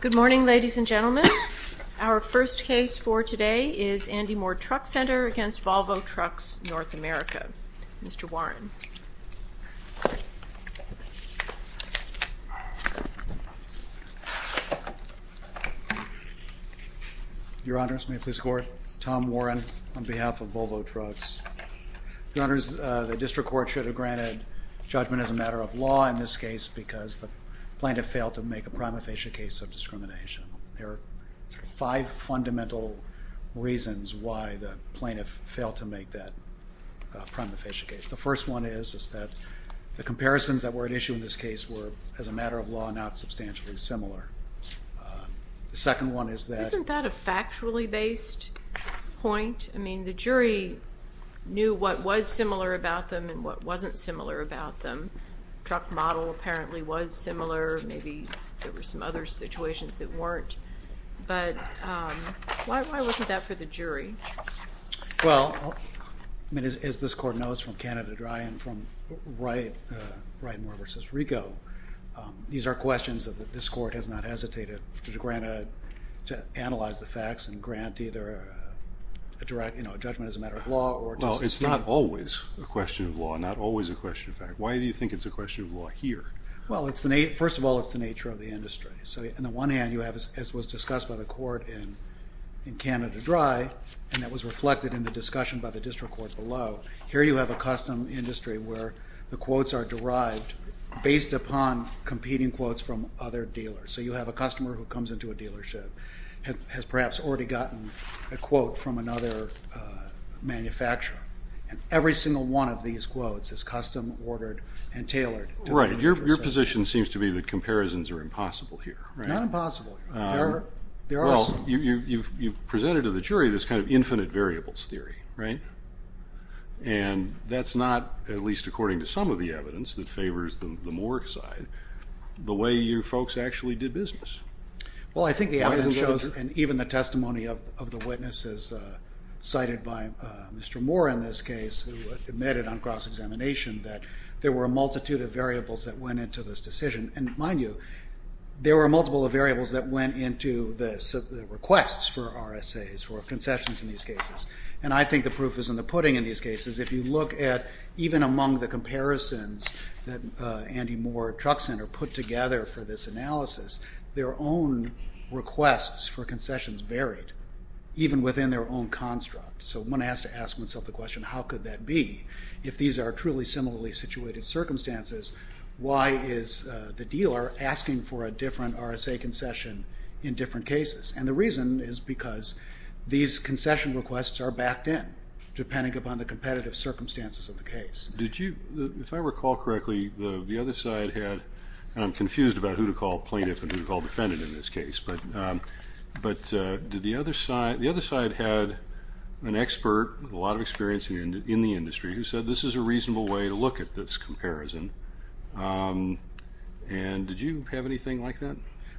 Good morning, ladies and gentlemen. Our first case for today is Andy Mohr Truck Center v. Volvo Trucks North America. Mr. Warren. Your Honors, may I please score? Tom Warren, on behalf of Volvo Trucks. Your Honors, the District Court should have granted judgment as a matter of law in this case because the plaintiff failed to make a prima facie case of discrimination. There are five fundamental reasons why the plaintiff failed to make that prima facie case. The first one is that the comparisons that were at issue in this case were, as a matter of law, not substantially similar. The second one is that- Isn't that a factually based point? I mean, the jury knew what was similar about them and what wasn't similar about them. The truck model apparently was similar. Maybe there were some other situations that weren't. But why wasn't that for the jury? Well, as this Court knows from Canada Dry and from Wright Mohr v. Rigo, these are questions that this Court has not hesitated to analyze the facts and grant either a judgment as a matter of law or to- No, it's not always a question of law, not always a question of fact. Why do you think it's a question of law here? Well, first of all, it's the nature of the industry. So on the one hand, you have, as was discussed by the Court in Canada Dry, and that was reflected in the discussion by the district court below, here you have a custom industry where the quotes are derived based upon competing quotes from other dealers. So you have a customer who comes into a dealership, has perhaps already gotten a quote from another manufacturer, and every single one of these quotes is custom ordered and tailored. Right. Your position seems to be that comparisons are impossible here, right? Not impossible. There are some. Well, you've presented to the jury this kind of infinite variables theory, right? And that's not, at least according to some of the evidence that favors the Mohr side, the way you folks actually did business. Well, I think the evidence shows, and even the testimony of the witnesses cited by Mr. Mohr in this case, who admitted on cross-examination that there were a multitude of variables that went into this decision. And mind you, there were a multiple of variables that went into the requests for RSAs, for concessions in these cases. And I think the proof is in the pudding in these cases. If you look at even among the comparisons that Andy Mohr Truck Center put together for this analysis, their own requests for concessions varied, even within their own construct. So one has to ask oneself the question, how could that be? If these are truly similarly situated circumstances, why is the dealer asking for a different RSA concession in different cases? And the reason is because these concession requests are backed in, depending upon the competitive circumstances of the case. Did you, if I recall correctly, the other side had, and I'm confused about who to call plaintiff and who to call defendant in this case, but did the other side, the other side had an expert with a lot of experience in the industry who said this is a reasonable way to look at this comparison. And did you have anything like that?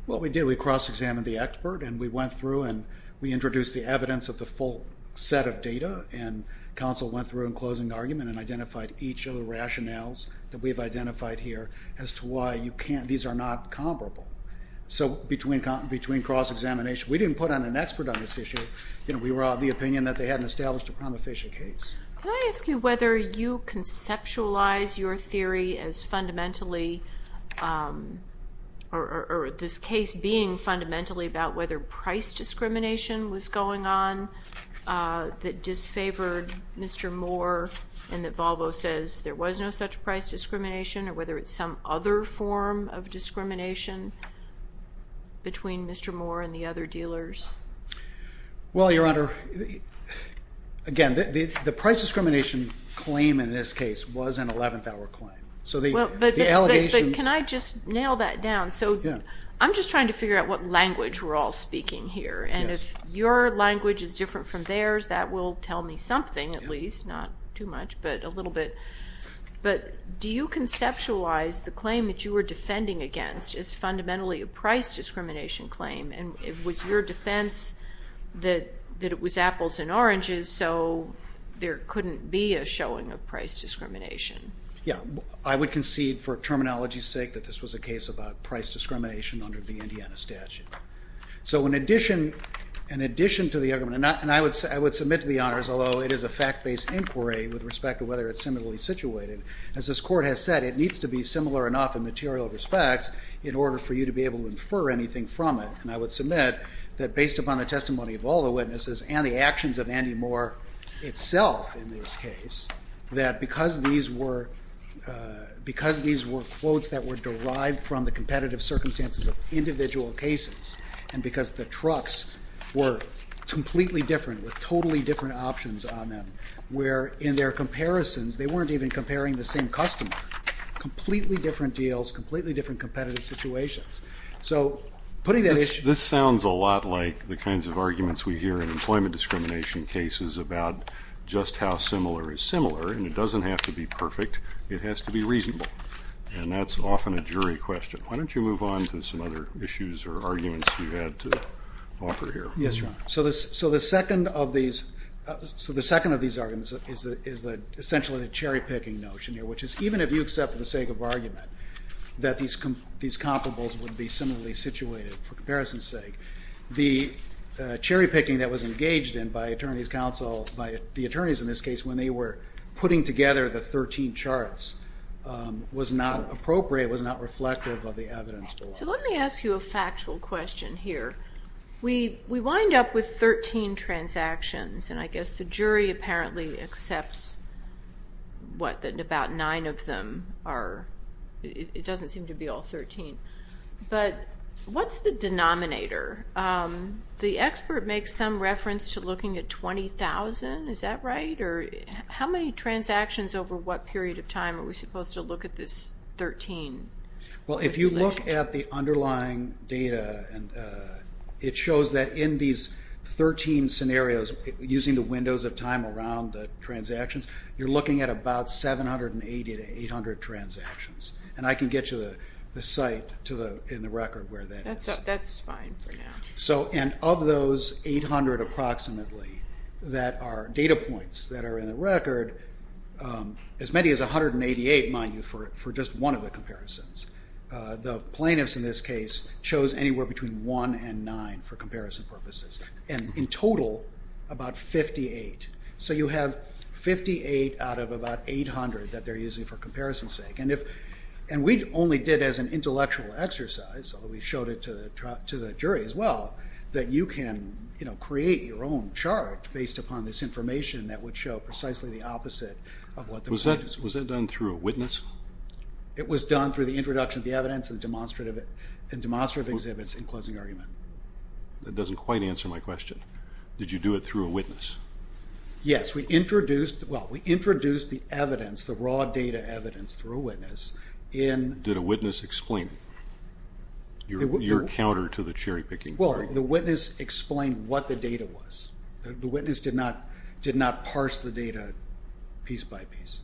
Well, we did. We cross-examined the expert, and we went through and we introduced the evidence of the full set of data, and counsel went through in closing argument and identified each of the rationales that we've identified here as to why you can't, these are not comparable. So between cross-examination, we didn't put on an expert on this issue. We were of the opinion that they hadn't established a prima facie case. Can I ask you whether you conceptualize your theory as fundamentally, or this case being fundamentally about whether price discrimination was going on that disfavored Mr. Moore and that Volvo says there was no such price discrimination or whether it's some other form of discrimination between Mr. Moore and the other dealers? Well, Your Honor, again, the price discrimination claim in this case was an 11th-hour claim. But can I just nail that down? So I'm just trying to figure out what language we're all speaking here, and if your language is different from theirs, that will tell me something at least, not too much but a little bit. But do you conceptualize the claim that you were defending against as fundamentally a price discrimination claim, and was your defense that it was apples and oranges so there couldn't be a showing of price discrimination? Yeah. I would concede for terminology's sake that this was a case about price discrimination under the Indiana statute. So in addition to the argument, and I would submit to the honors, although it is a fact-based inquiry with respect to whether it's similarly situated, as this Court has said, it needs to be similar enough in material respects in order for you to be able to infer anything from it. And I would submit that based upon the testimony of all the witnesses and the actions of Andy Moore itself in this case, that because these were quotes that were derived from the competitive circumstances of individual cases, and because the trucks were completely different with totally different options on them, where in their comparisons they weren't even comparing the same customer, completely different deals, completely different competitive situations. So putting that issue... This sounds a lot like the kinds of arguments we hear in employment discrimination cases about just how similar is similar, and it doesn't have to be perfect. It has to be reasonable. And that's often a jury question. Why don't you move on to some other issues or arguments you had to offer here. Yes, Your Honor. So the second of these arguments is essentially the cherry-picking notion here, which is even if you accept for the sake of argument that these comparables would be similarly situated for comparison's sake, the cherry-picking that was engaged in by the attorneys in this case when they were putting together the 13 charts was not appropriate, was not reflective of the evidence below. So let me ask you a factual question here. We wind up with 13 transactions, and I guess the jury apparently accepts what? That about nine of them are... It doesn't seem to be all 13. But what's the denominator? The expert makes some reference to looking at 20,000. Is that right? How many transactions over what period of time are we supposed to look at this 13? Well, if you look at the underlying data, it shows that in these 13 scenarios using the windows of time around the transactions, you're looking at about 780 to 800 transactions. And I can get you the site in the record where that is. That's fine for now. And of those 800 approximately that are data points that are in the record, as many as 188, mind you, for just one of the comparisons. The plaintiffs in this case chose anywhere between 1 and 9 for comparison purposes, and in total about 58. So you have 58 out of about 800 that they're using for comparison's sake. And we only did as an intellectual exercise, although we showed it to the jury as well, that you can create your own chart based upon this information that would show precisely the opposite of what the plaintiffs... Was that done through a witness? It was done through the introduction of the evidence and demonstrative exhibits in closing argument. That doesn't quite answer my question. Did you do it through a witness? Yes. We introduced the evidence, the raw data evidence through a witness. Did a witness explain it, your counter to the cherry-picking? Well, the witness explained what the data was. The witness did not parse the data piece by piece.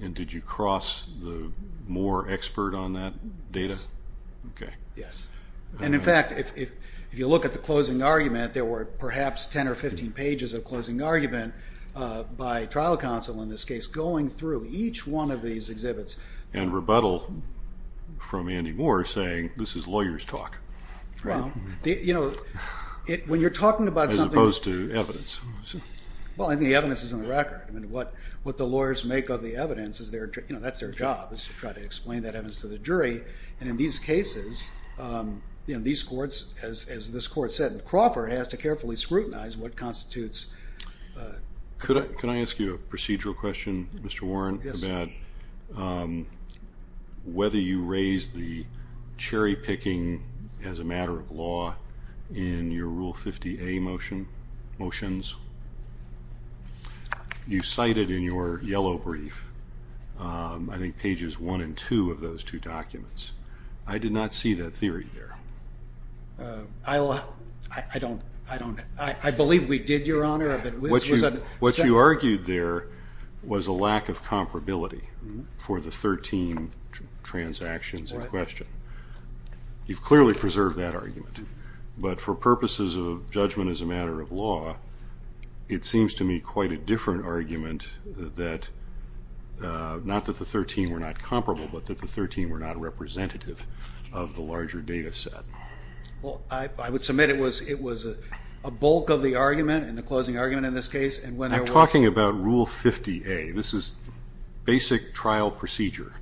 And did you cross the Moore expert on that data? Yes. Okay. Yes. And, in fact, if you look at the closing argument, there were perhaps 10 or 15 pages of closing argument by trial counsel in this case going through each one of these exhibits. And rebuttal from Andy Moore saying this is lawyer's talk. Right. You know, when you're talking about something... As opposed to evidence. Well, and the evidence is on the record. I mean, what the lawyers make of the evidence, you know, that's their job, is to try to explain that evidence to the jury. And in these cases, you know, these courts, as this court said, Crawford has to carefully scrutinize what constitutes... Could I ask you a procedural question, Mr. Warren? Yes. About whether you raised the cherry-picking as a matter of law in your Rule 50A motions. You cited in your yellow brief, I think, pages 1 and 2 of those two documents. I did not see that theory there. I don't. I believe we did, Your Honor. What you argued there was a lack of comparability for the 13 transactions in question. Right. You've clearly preserved that argument. But for purposes of judgment as a matter of law, it seems to me quite a different argument that not that the 13 were not comparable, but that the 13 were not representative of the larger data set. Well, I would submit it was a bulk of the argument, and the closing argument in this case, and when there was... I'm talking about Rule 50A. This is basic trial procedure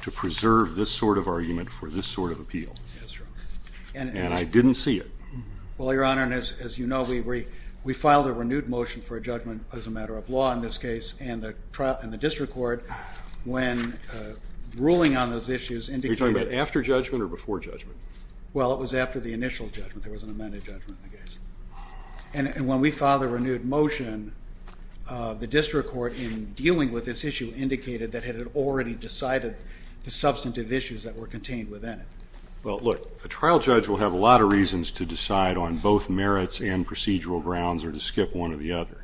to preserve this sort of argument for this sort of appeal. That's right. And I didn't see it. Well, Your Honor, as you know, we filed a renewed motion for a judgment as a matter of law in this case, and the district court, when ruling on those issues, indicated... Are you talking about after judgment or before judgment? Well, it was after the initial judgment. There was an amended judgment in the case. And when we filed a renewed motion, the district court, in dealing with this issue, indicated that it had already decided the substantive issues that were contained within it. Well, look, a trial judge will have a lot of reasons to decide on both merits and procedural grounds or to skip one or the other.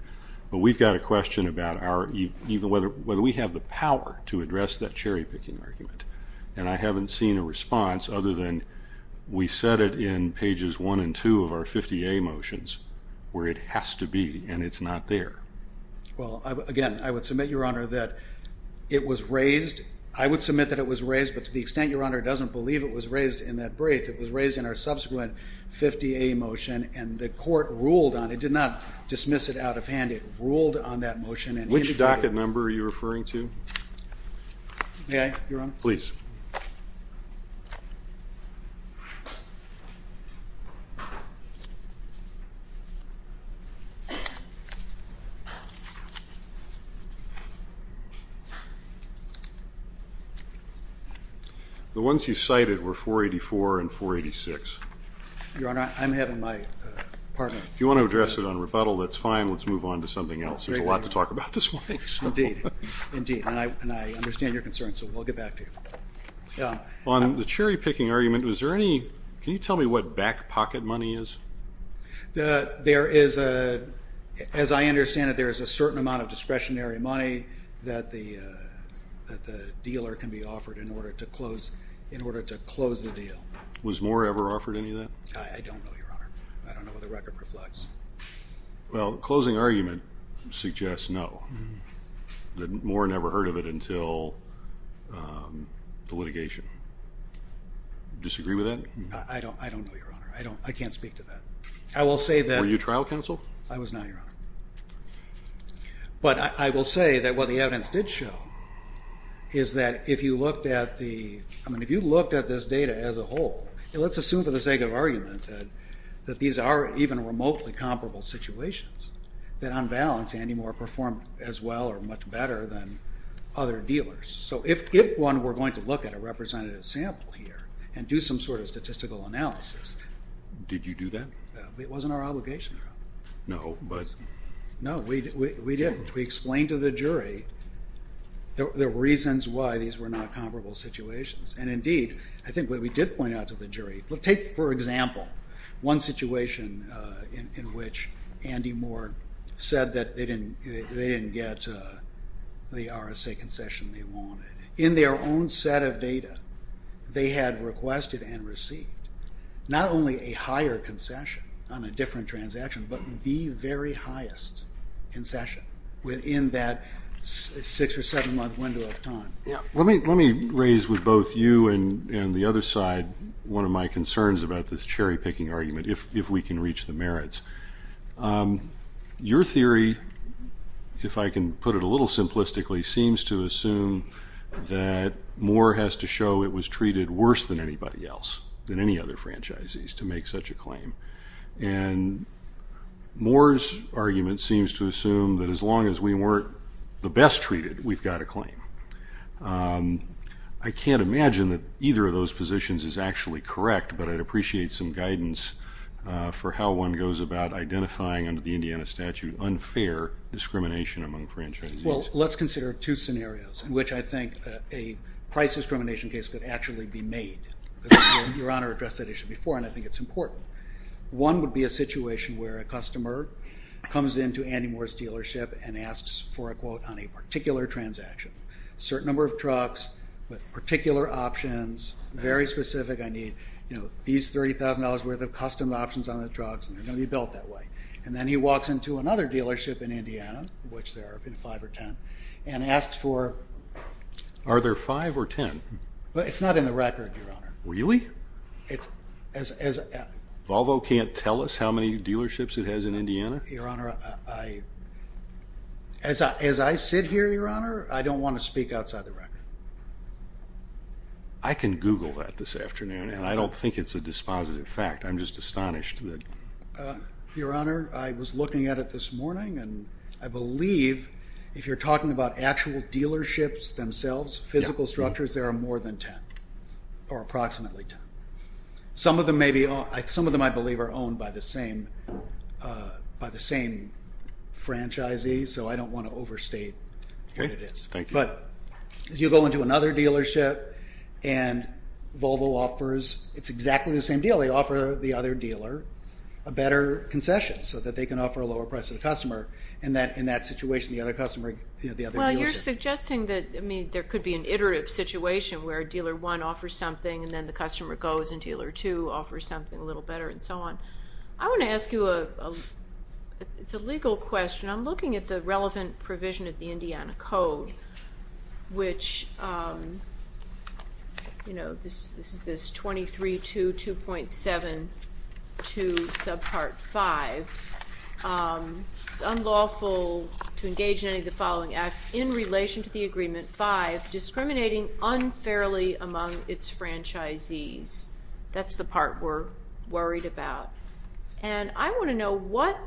But we've got a question about whether we have the power to address that cherry-picking argument. And I haven't seen a response other than we said it in pages 1 and 2 of our 50A motions, where it has to be, and it's not there. Well, again, I would submit, Your Honor, that it was raised. But to the extent, Your Honor, it doesn't believe it was raised in that brief, it was raised in our subsequent 50A motion, and the court ruled on it. It did not dismiss it out of hand. It ruled on that motion and indicated... Which docket number are you referring to? May I, Your Honor? Please. The ones you cited were 484 and 486. Your Honor, I'm having my pardon. If you want to address it on rebuttal, that's fine. Let's move on to something else. There's a lot to talk about this morning. Indeed. Indeed. And I understand your concern, so we'll get back to you. On the cherry-picking argument, was there any... Can you tell me what back-pocket money is? There is a... As I understand it, there is a certain amount of discretionary money that the dealer can be offered in order to close the deal. Was Moore ever offered any of that? I don't know, Your Honor. I don't know what the record reflects. Well, the closing argument suggests no. Moore never heard of it until the litigation. Disagree with that? I don't know, Your Honor. I can't speak to that. I will say that... Were you trial counsel? I was not, Your Honor. But I will say that what the evidence did show is that if you looked at the... I mean, if you looked at this data as a whole, let's assume for the sake of argument that these are even remotely comparable situations, that on balance Andy Moore performed as well or much better than other dealers. So if one were going to look at a representative sample here and do some sort of statistical analysis... Did you do that? It wasn't our obligation, Your Honor. No, but... No, we didn't. We explained to the jury the reasons why these were not comparable situations. And indeed, I think what we did point out to the jury... Take, for example, one situation in which Andy Moore said that they didn't get the RSA concession they wanted. In their own set of data, they had requested and received not only a higher concession on a different transaction but the very highest concession within that six- or seven-month window of time. Let me raise with both you and the other side one of my concerns about this cherry-picking argument, if we can reach the merits. Your theory, if I can put it a little simplistically, seems to assume that Moore has to show it was treated worse than anybody else, than any other franchisees, to make such a claim. And Moore's argument seems to assume that as long as we weren't the best treated, we've got a claim. I can't imagine that either of those positions is actually correct, but I'd appreciate some guidance for how one goes about identifying, under the Indiana statute, unfair discrimination among franchisees. Well, let's consider two scenarios in which I think a price discrimination case could actually be made. Your Honor addressed that issue before, and I think it's important. One would be a situation where a customer comes into Andy Moore's dealership and asks for a quote on a particular transaction, a certain number of trucks with particular options, very specific, I need these $30,000 worth of custom options on the trucks, and they're going to be built that way. And then he walks into another dealership in Indiana, which there have been five or ten, and asks for... Are there five or ten? It's not in the record, Your Honor. Really? Volvo can't tell us how many dealerships it has in Indiana? Your Honor, as I sit here, Your Honor, I don't want to speak outside the record. I can Google that this afternoon, and I don't think it's a dispositive fact. I'm just astonished that... Your Honor, I was looking at it this morning, and I believe if you're talking about actual dealerships themselves, physical structures, there are more than ten, or approximately ten. Some of them, I believe, are owned by the same franchisees, so I don't want to overstate what it is. But you go into another dealership, and Volvo offers... It's exactly the same deal. They offer the other dealer a better concession so that they can offer a lower price to the customer. In that situation, the other dealership... It would be an iterative situation where dealer one offers something, and then the customer goes, and dealer two offers something a little better, and so on. I want to ask you a legal question. I'm looking at the relevant provision of the Indiana Code, which, you know, this is this 23.2.7.2 subpart 5. It's unlawful to engage in any of the following acts in relation to the Agreement 5, discriminating unfairly among its franchisees. That's the part we're worried about. And I want to know what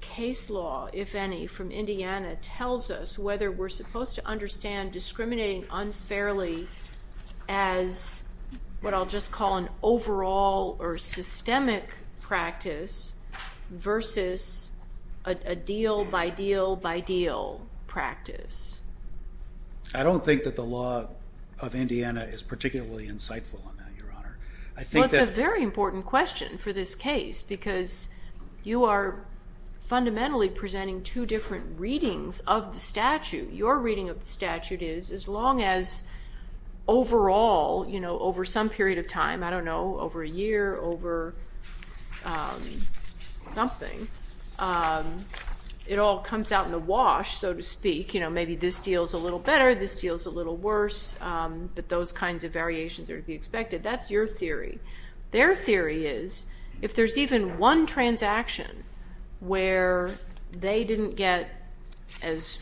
case law, if any, from Indiana tells us whether we're supposed to understand discriminating unfairly as what I'll just call an overall or systemic practice versus a deal-by-deal-by-deal practice. I don't think that the law of Indiana is particularly insightful on that, Your Honor. Well, it's a very important question for this case because you are fundamentally presenting two different readings of the statute. Your reading of the statute is as long as overall, you know, over some period of time, I don't know, over a year, over something, it all comes out in the wash, so to speak. You know, maybe this deal's a little better, this deal's a little worse, but those kinds of variations are to be expected. That's your theory. Their theory is if there's even one transaction where they didn't get as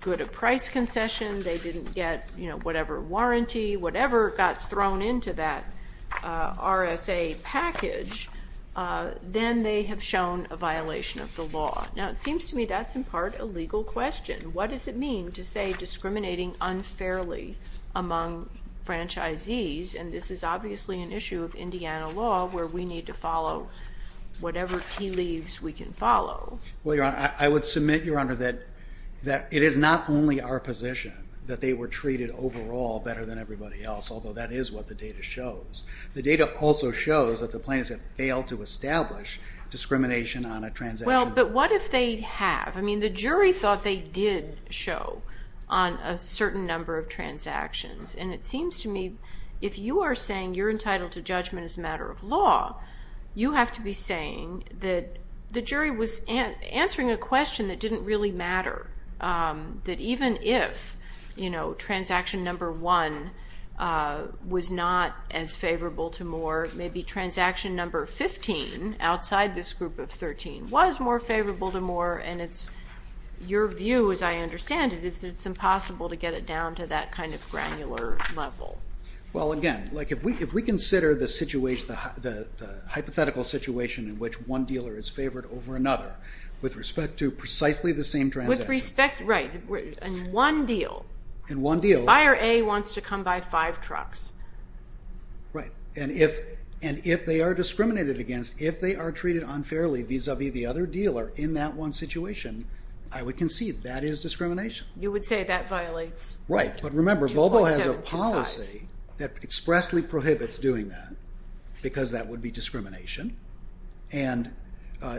good a price concession, they didn't get, you know, whatever warranty, whatever got thrown into that RSA package, then they have shown a violation of the law. Now, it seems to me that's in part a legal question. What does it mean to say discriminating unfairly among franchisees? And this is obviously an issue of Indiana law where we need to follow whatever tea leaves we can follow. Well, Your Honor, I would submit, Your Honor, that it is not only our position that they were treated overall better than everybody else, although that is what the data shows. The data also shows that the plaintiffs have failed to establish discrimination on a transaction. Well, but what if they have? I mean, the jury thought they did show on a certain number of transactions, and it seems to me if you are saying you're entitled to judgment as a matter of law, you have to be saying that the jury was answering a question that didn't really matter, that even if, you know, transaction number one was not as favorable to Moore, maybe transaction number 15, outside this group of 13, was more favorable to Moore, and it's your view as I understand it is that it's impossible to get it down to that kind of granular level. Well, again, like if we consider the hypothetical situation in which one dealer is favored over another with respect to precisely the same transaction. With respect, right, in one deal. In one deal. Buyer A wants to come by five trucks. Right, and if they are discriminated against, if they are treated unfairly vis-a-vis the other dealer in that one situation, I would concede that is discrimination. You would say that violates 2.725. Right, but remember, Volvo has a policy that expressly prohibits doing that because that would be discrimination, and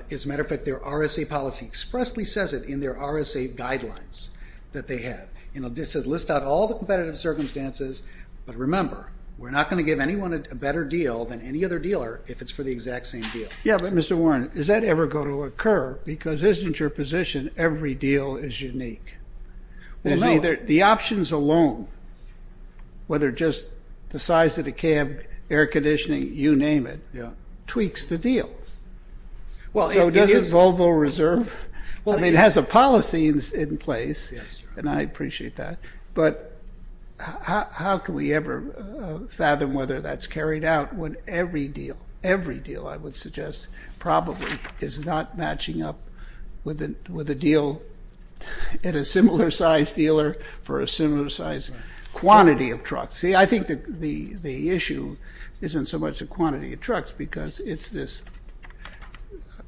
as a matter of fact, their RSA policy expressly says it in their RSA guidelines that they have. You know, it says list out all the competitive circumstances, but remember, we're not going to give anyone a better deal than any other dealer if it's for the exact same deal. Yeah, but Mr. Warren, does that ever go to occur? Because isn't your position every deal is unique? Well, no. The options alone, whether just the size of the cab, air conditioning, you name it, tweaks the deal. So doesn't Volvo Reserve... Well, it has a policy in place, and I appreciate that, but how can we ever fathom whether that's carried out when every deal, every deal, I would suggest, probably is not matching up with a deal at a similar size dealer for a similar size quantity of trucks? See, I think the issue isn't so much the quantity of trucks because it's this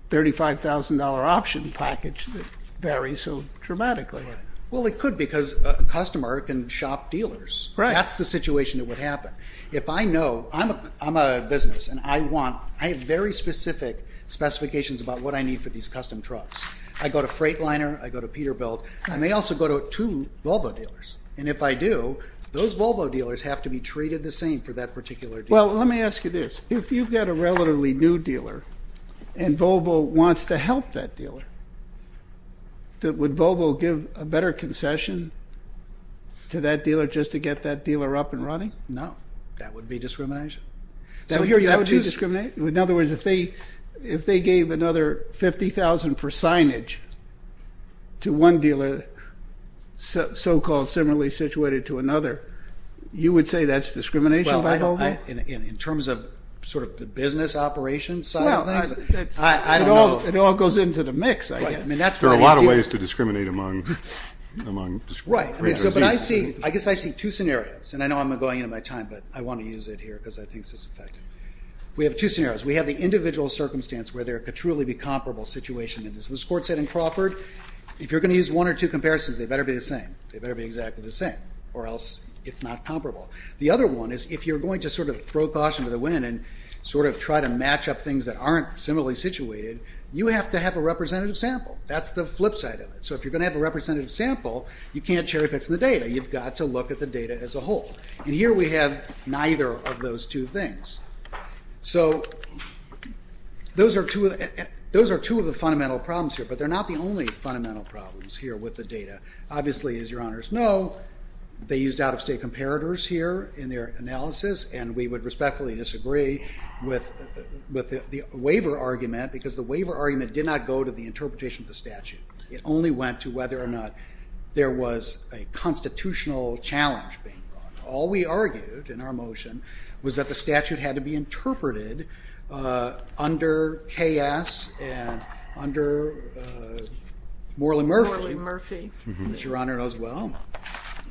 $35,000 option package that varies so dramatically. Well, it could because a customer can shop dealers. That's the situation that would happen. If I know... I'm a business, and I want... I have very specific specifications about what I need for these custom trucks. I go to Freightliner, I go to Peterbilt, and I may also go to two Volvo dealers, and if I do, those Volvo dealers have to be treated the same for that particular deal. Well, let me ask you this. If you've got a relatively new dealer and Volvo wants to help that dealer, would Volvo give a better concession to that dealer just to get that dealer up and running? No. That would be discrimination. That would be discrimination? In other words, if they gave another $50,000 for signage to one dealer so-called similarly situated to another, you would say that's discrimination by Volvo? In terms of sort of the business operations side of things? Well, it all goes into the mix, I guess. There are a lot of ways to discriminate among... Right. But I see... I guess I see two scenarios, and I know I'm going into my time, but I want to use it here because I think it's effective. We have two scenarios. We have the individual circumstance where there could truly be a comparable situation. As this court said in Crawford, if you're going to use one or two comparisons, they better be the same. They better be exactly the same, or else it's not comparable. The other one is if you're going to sort of throw caution to the wind and sort of try to match up things that aren't similarly situated, you have to have a representative sample. That's the flip side of it. So if you're going to have a representative sample, you can't cherry-pick from the data. You've got to look at the data as a whole. And here we have neither of those two things. So those are two of the fundamental problems here, but they're not the only fundamental problems here with the data. Obviously, as Your Honors know, they used out-of-state comparators here in their analysis, and we would respectfully disagree with the waiver argument because the waiver argument did not go to the interpretation of the statute. It only went to whether or not there was a constitutional challenge being brought. All we argued in our motion was that the statute had to be interpreted under K.S. and under Morley Murphy, which Your Honor knows well.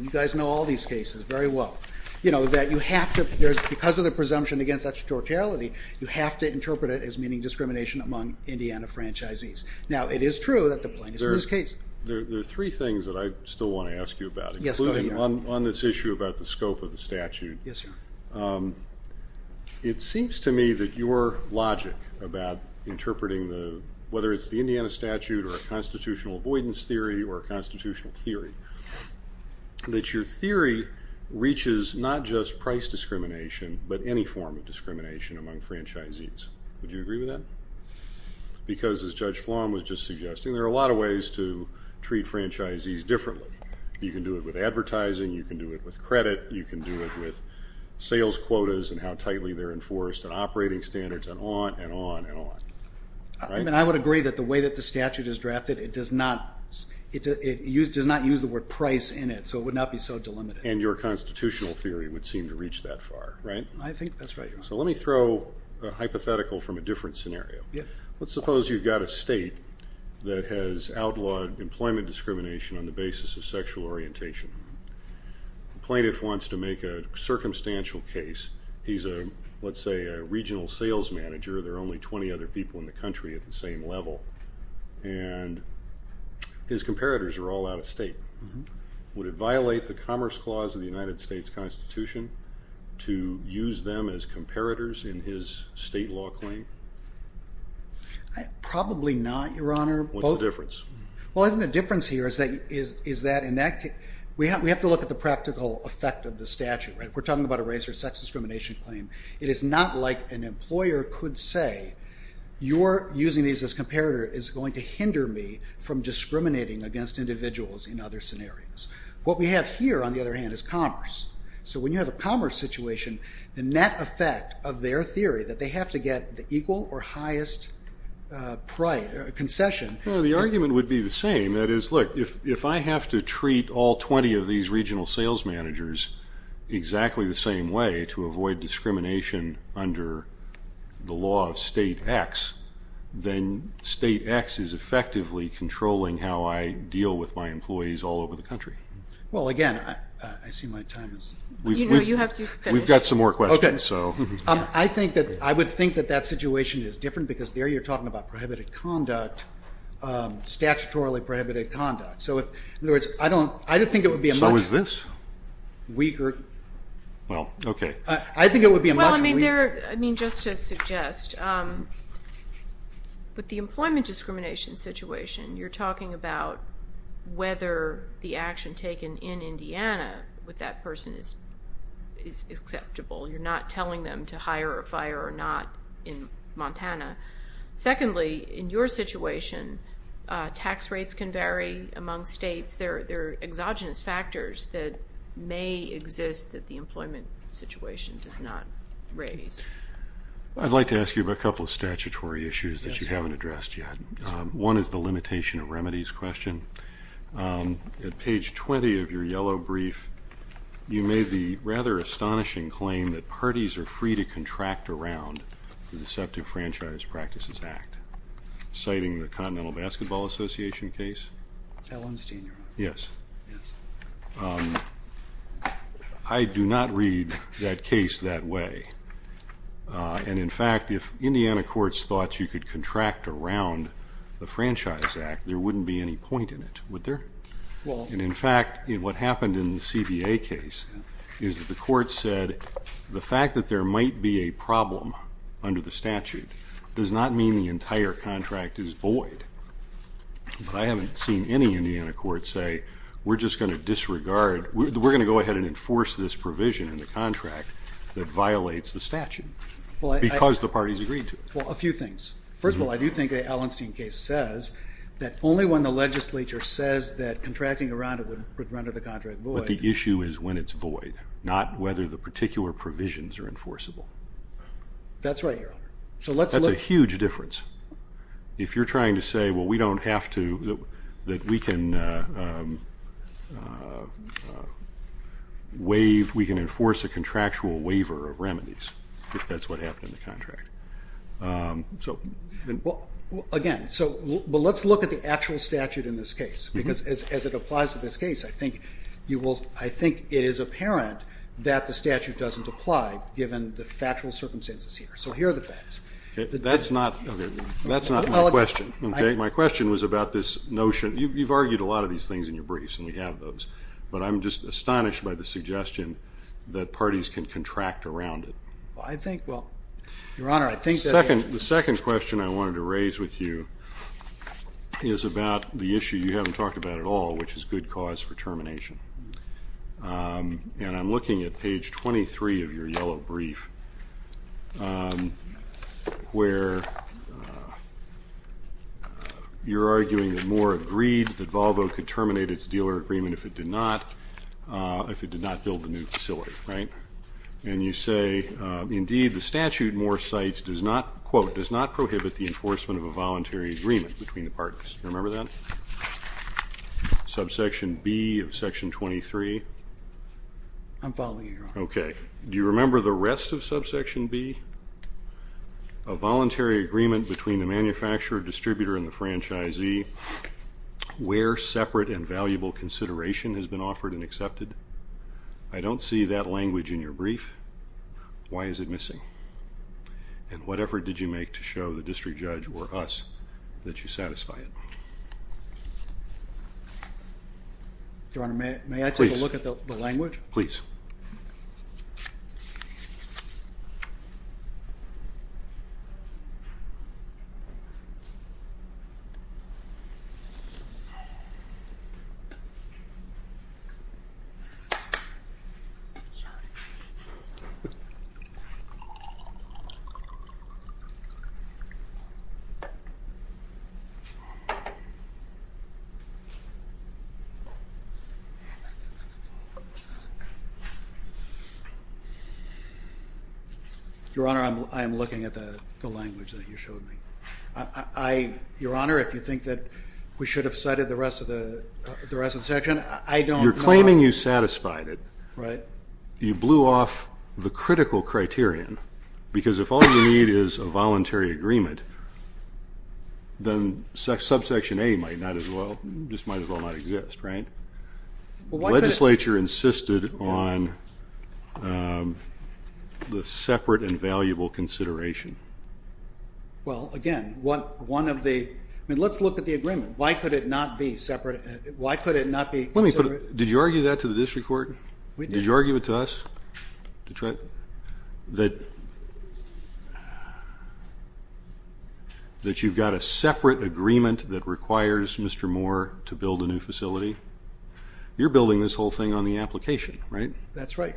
You guys know all these cases very well. Because of the presumption against extraterritoriality, you have to interpret it as meaning discrimination among Indiana franchisees. Now, it is true that the plaintiff's in this case. There are three things that I still want to ask you about, including on this issue about the scope of the statute. Yes, Your Honor. It seems to me that your logic about interpreting the whether it's the Indiana statute or a constitutional avoidance theory or a constitutional theory, that your theory reaches not just price discrimination but any form of discrimination among franchisees. Would you agree with that? Because, as Judge Flom was just suggesting, there are a lot of ways to treat franchisees differently. You can do it with advertising. You can do it with credit. You can do it with sales quotas and how tightly they're enforced and operating standards and on and on and on. I would agree that the way that the statute is drafted, it does not use the word price in it, so it would not be so delimited. And your constitutional theory would seem to reach that far, right? I think that's right, Your Honor. So let me throw a hypothetical from a different scenario. Let's suppose you've got a state that has outlawed employment discrimination on the basis of sexual orientation. The plaintiff wants to make a circumstantial case. He's a, let's say, a regional sales manager. There are only 20 other people in the country at the same level. And his comparators are all out of state. Would it violate the Commerce Clause of the United States Constitution to use them as comparators in his state law claim? Probably not, Your Honor. What's the difference? Well, I think the difference here is that in that case, we have to look at the practical effect of the statute, right? We're talking about a race or sex discrimination claim. It is not like an employer could say, you're using these as comparator is going to hinder me from discriminating against individuals in other scenarios. What we have here, on the other hand, is commerce. So when you have a commerce situation, or highest price, concession. The argument would be the same. That is, look, if I have to treat all 20 of these regional sales managers exactly the same way to avoid discrimination under the law of State X, then State X is effectively controlling how I deal with my employees all over the country. Well, again, I see my time is up. No, you have to finish. We've got some more questions. I would think that that situation is different because there you're talking about prohibited conduct, statutorily prohibited conduct. So in other words, I don't think it would be a much weaker... So is this? Well, okay. I think it would be a much weaker... Well, I mean, just to suggest, with the employment discrimination situation, you're talking about whether the action taken in Indiana with that person is acceptable. You're not telling them to hire a fire or not in Montana. Secondly, in your situation, tax rates can vary among states. There are exogenous factors that may exist that the employment situation does not raise. I'd like to ask you about a couple of statutory issues that you haven't addressed yet. One is the limitation of remedies question. At page 20 of your yellow brief, you made the rather astonishing claim that parties are free to contract around the Deceptive Franchise Practices Act, citing the Continental Basketball Association case. Allen's Junior. Yes. I do not read that case that way. And, in fact, if Indiana courts thought you could contract around the Franchise Act, there wouldn't be any point in it, would there? And, in fact, what happened in the CBA case is that the court said the fact that there might be a problem under the statute does not mean the entire contract is void. But I haven't seen any Indiana courts say, we're just going to disregard, we're going to go ahead and enforce this provision in the contract that violates the statute because the parties agreed to it. Well, a few things. First of all, I do think the Allenstein case says that only when the legislature says that contracting around it would render the contract void. But the issue is when it's void, not whether the particular provisions are enforceable. That's right, Your Honor. That's a huge difference. If you're trying to say, well, we don't have to, that we can enforce a contractual waiver of remedies, if that's what happened in the contract. Well, again, let's look at the actual statute in this case. Because as it applies to this case, I think it is apparent that the statute doesn't apply given the factual circumstances here. So here are the facts. That's not my question. My question was about this notion. You've argued a lot of these things in your briefs, and we have those. But I'm just astonished by the suggestion that parties can contract around it. The second question I wanted to raise with you is about the issue you haven't talked about at all, which is good cause for termination. And I'm looking at page 23 of your yellow brief, where you're arguing that Moore agreed that Volvo could terminate its dealer agreement if it did not build the new facility. And you say, indeed, the statute, Moore cites, does not, quote, does not prohibit the enforcement of a voluntary agreement between the parties. Do you remember that? Subsection B of Section 23. I'm following you. Okay. Do you remember the rest of Subsection B? A voluntary agreement between the manufacturer, distributor, and the franchisee where separate and valuable consideration has been offered and accepted. I don't see that language in your brief. Why is it missing? And what effort did you make to show the district judge or us that you satisfy it? Your Honor, may I take a look at the language? Please. Sorry. Your Honor, I am looking at the language that you showed me. Your Honor, if you think that we should have cited the rest of the section, I don't know. You're claiming you satisfied it. Right. You blew off the critical criterion, because if all you need is a voluntary agreement, then Subsection A might as well not exist, right? The legislature insisted on the separate and valuable consideration. Well, again, let's look at the agreement. Why could it not be separate? Did you argue that to the district court? We did. Did you argue it to us? That you've got a separate agreement that requires Mr. Moore to build a new facility? You're building this whole thing on the application, right? That's right.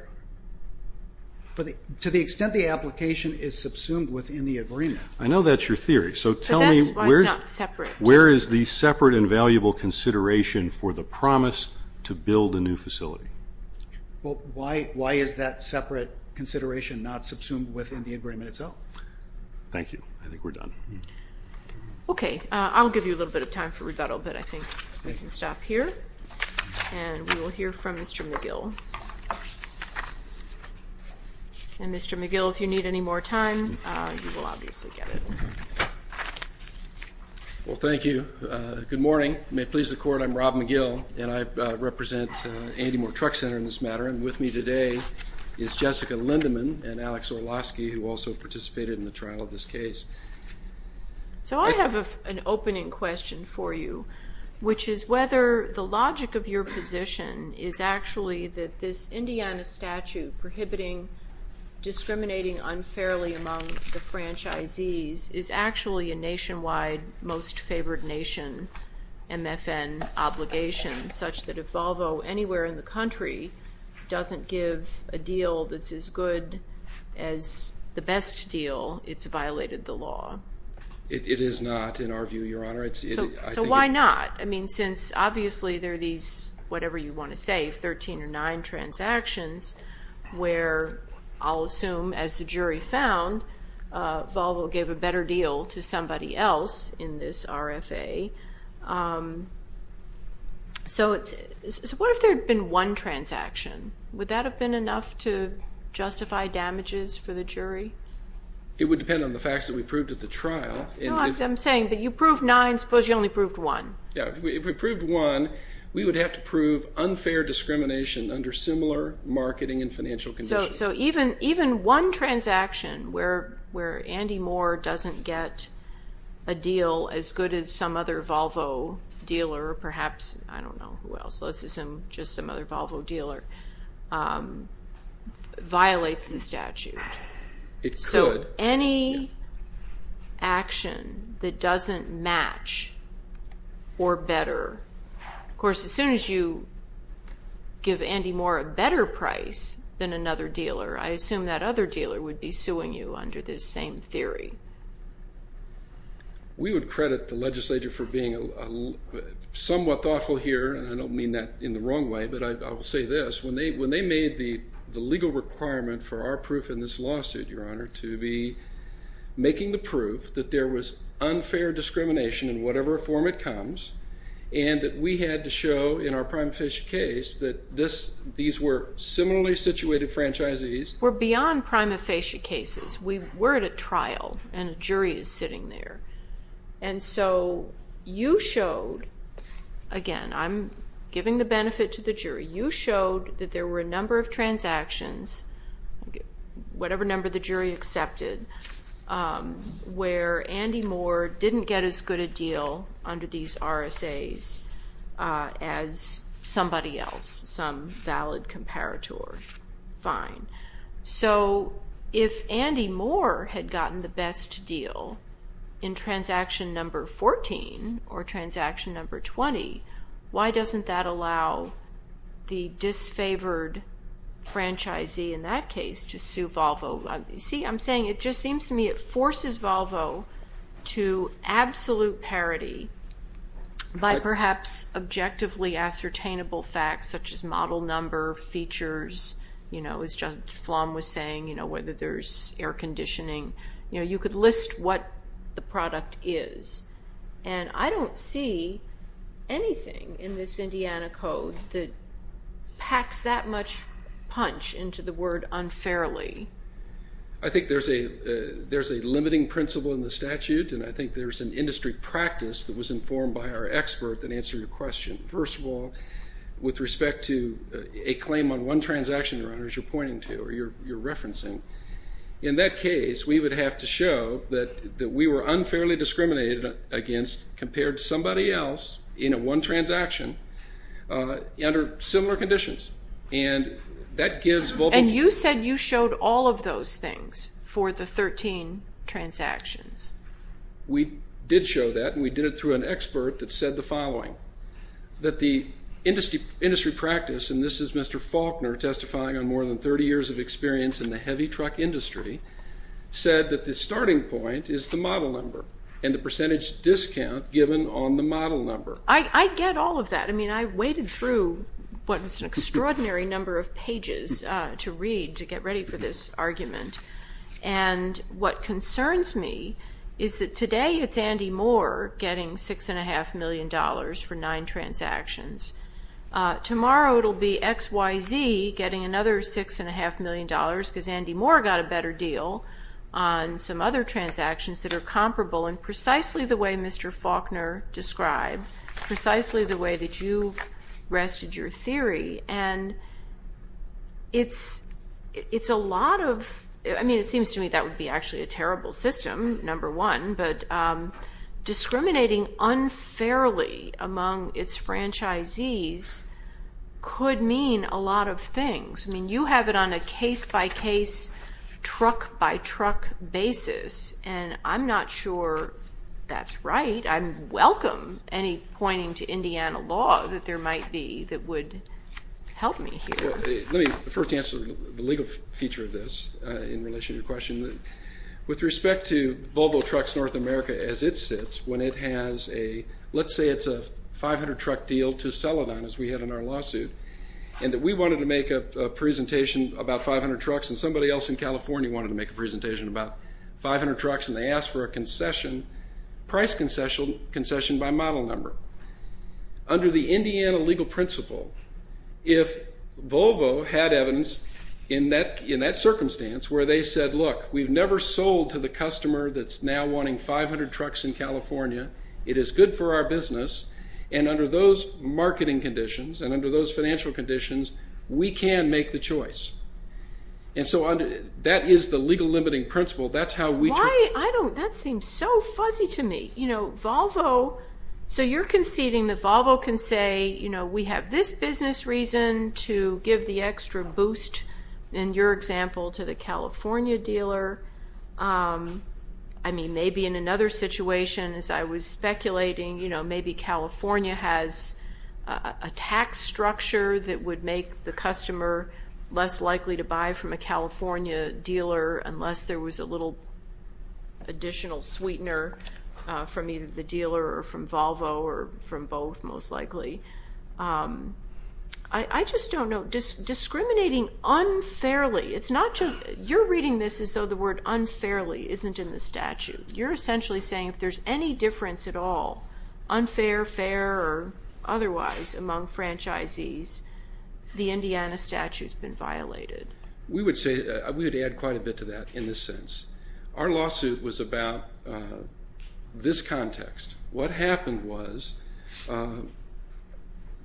To the extent the application is subsumed within the agreement. I know that's your theory, so tell me where is the separate and valuable consideration for the promise to build a new facility? Well, why is that separate consideration not subsumed within the agreement itself? Thank you. I think we're done. Okay. I'll give you a little bit of time for rebuttal, but I think we can stop here. And we will hear from Mr. McGill. And, Mr. McGill, if you need any more time, you will obviously get it. Well, thank you. Good morning. May it please the Court, I'm Rob McGill, and I represent Andy Moore Truck Center in this matter, and with me today is Jessica Lindeman and Alex Orlowski, who also participated in the trial of this case. So I have an opening question for you, which is whether the logic of your position is actually that this Indiana statute prohibiting discriminating unfairly among the franchisees is actually a nationwide most favored nation MFN obligation, such that if Volvo anywhere in the country doesn't give a deal that's as good as the best deal, it's violated the law. It is not, in our view, Your Honor. So why not? I mean, since obviously there are these, whatever you want to say, 13 or 9 transactions, where I'll assume as the jury found Volvo gave a better deal to somebody else in this RFA. So what if there had been one transaction? Would that have been enough to justify damages for the jury? It would depend on the facts that we proved at the trial. No, I'm saying, but you proved 9, suppose you only proved 1. Yeah, if we proved 1, we would have to prove unfair discrimination under similar marketing and financial conditions. So even one transaction where Andy Moore doesn't get a deal as good as some other Volvo dealer, perhaps, I don't know who else, let's assume just some other Volvo dealer, violates the statute. It could. Any action that doesn't match or better. Of course, as soon as you give Andy Moore a better price than another dealer, I assume that other dealer would be suing you under this same theory. We would credit the legislature for being somewhat thoughtful here, and I don't mean that in the wrong way, but I will say this. When they made the legal requirement for our proof in this lawsuit, Your Honor, to be making the proof that there was unfair discrimination in whatever form it comes, and that we had to show in our prima facie case that these were similarly situated franchisees. We're beyond prima facie cases. We're at a trial, and a jury is sitting there. And so you showed, again, I'm giving the benefit to the jury. You showed that there were a number of transactions, whatever number the jury accepted, where Andy Moore didn't get as good a deal under these RSAs as somebody else, some valid comparator. Fine. So if Andy Moore had gotten the best deal in transaction number 14 or transaction number 20, why doesn't that allow the disfavored franchisee in that case to sue Volvo? See, I'm saying it just seems to me it forces Volvo to absolute parity by perhaps objectively ascertainable facts such as model number, features, you know, as Judge Flom was saying, you know, whether there's air conditioning. You know, you could list what the product is. And I don't see anything in this Indiana Code that packs that much punch into the word unfairly. I think there's a limiting principle in the statute, and I think there's an industry practice that was informed by our expert that answered your question. First of all, with respect to a claim on one transaction, Your Honors, you're pointing to or you're referencing, in that case we would have to show that we were unfairly discriminated against compared to somebody else in one transaction under similar conditions, and that gives Volvo. And you said you showed all of those things for the 13 transactions. We did show that, and we did it through an expert that said the following, that the industry practice, and this is Mr. Faulkner testifying on more than 30 years of experience in the heavy truck industry, said that the starting point is the model number and the percentage discount given on the model number. I get all of that. I mean, I waded through what was an extraordinary number of pages to read to get ready for this argument. And what concerns me is that today it's Andy Moore getting $6.5 million for nine transactions. Tomorrow it will be XYZ getting another $6.5 million because Andy Moore got a better deal on some other transactions that are comparable in precisely the way Mr. Faulkner described, precisely the way that you've rested your theory. And it's a lot of, I mean, it seems to me that would be actually a terrible system, number one, but discriminating unfairly among its franchisees could mean a lot of things. I mean, you have it on a case-by-case, truck-by-truck basis, and I'm not sure that's right. I welcome any pointing to Indiana law that there might be that would help me here. Let me first answer the legal feature of this in relation to your question. With respect to Volvo Trucks North America as it sits, when it has a, let's say it's a 500-truck deal to sell it on, as we had in our lawsuit, and that we wanted to make a presentation about 500 trucks and somebody else in California wanted to make a presentation about 500 trucks, and they asked for a concession, price concession by model number. Under the Indiana legal principle, if Volvo had evidence in that circumstance where they said, look, we've never sold to the customer that's now wanting 500 trucks in California. It is good for our business, and under those marketing conditions and under those financial conditions, we can make the choice. And so that is the legal limiting principle. That's how we try. Why, I don't, that seems so fuzzy to me. You know, Volvo, so you're conceding that Volvo can say, you know, we have this business reason to give the extra boost, in your example, to the California dealer. I mean, maybe in another situation, as I was speculating, you know, maybe California has a tax structure that would make the customer less likely to buy from a California dealer unless there was a little additional sweetener from either the dealer or from Volvo or from both, most likely. I just don't know. Discriminating unfairly, it's not just, you're reading this as though the word unfairly isn't in the statute. You're essentially saying if there's any difference at all, unfair, fair, or otherwise among franchisees, the Indiana statute's been violated. We would say, we would add quite a bit to that in this sense. Our lawsuit was about this context. What happened was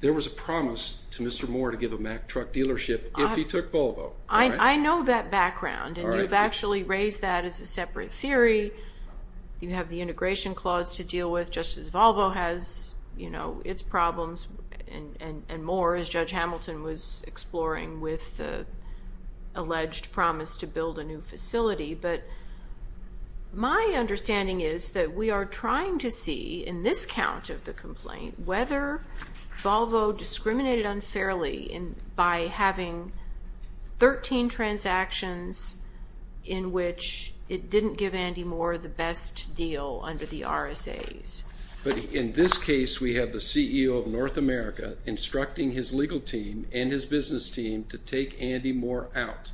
there was a promise to Mr. Moore to give a Mack truck dealership if he took Volvo. I know that background, and you've actually raised that as a separate theory. You have the integration clause to deal with just as Volvo has, you know, its problems and more as Judge Hamilton was exploring with the alleged promise to build a new facility. But my understanding is that we are trying to see in this count of the complaint whether Volvo discriminated unfairly by having 13 transactions in which it didn't give Andy Moore the best deal under the RSAs. But in this case, we have the CEO of North America instructing his legal team and his business team to take Andy Moore out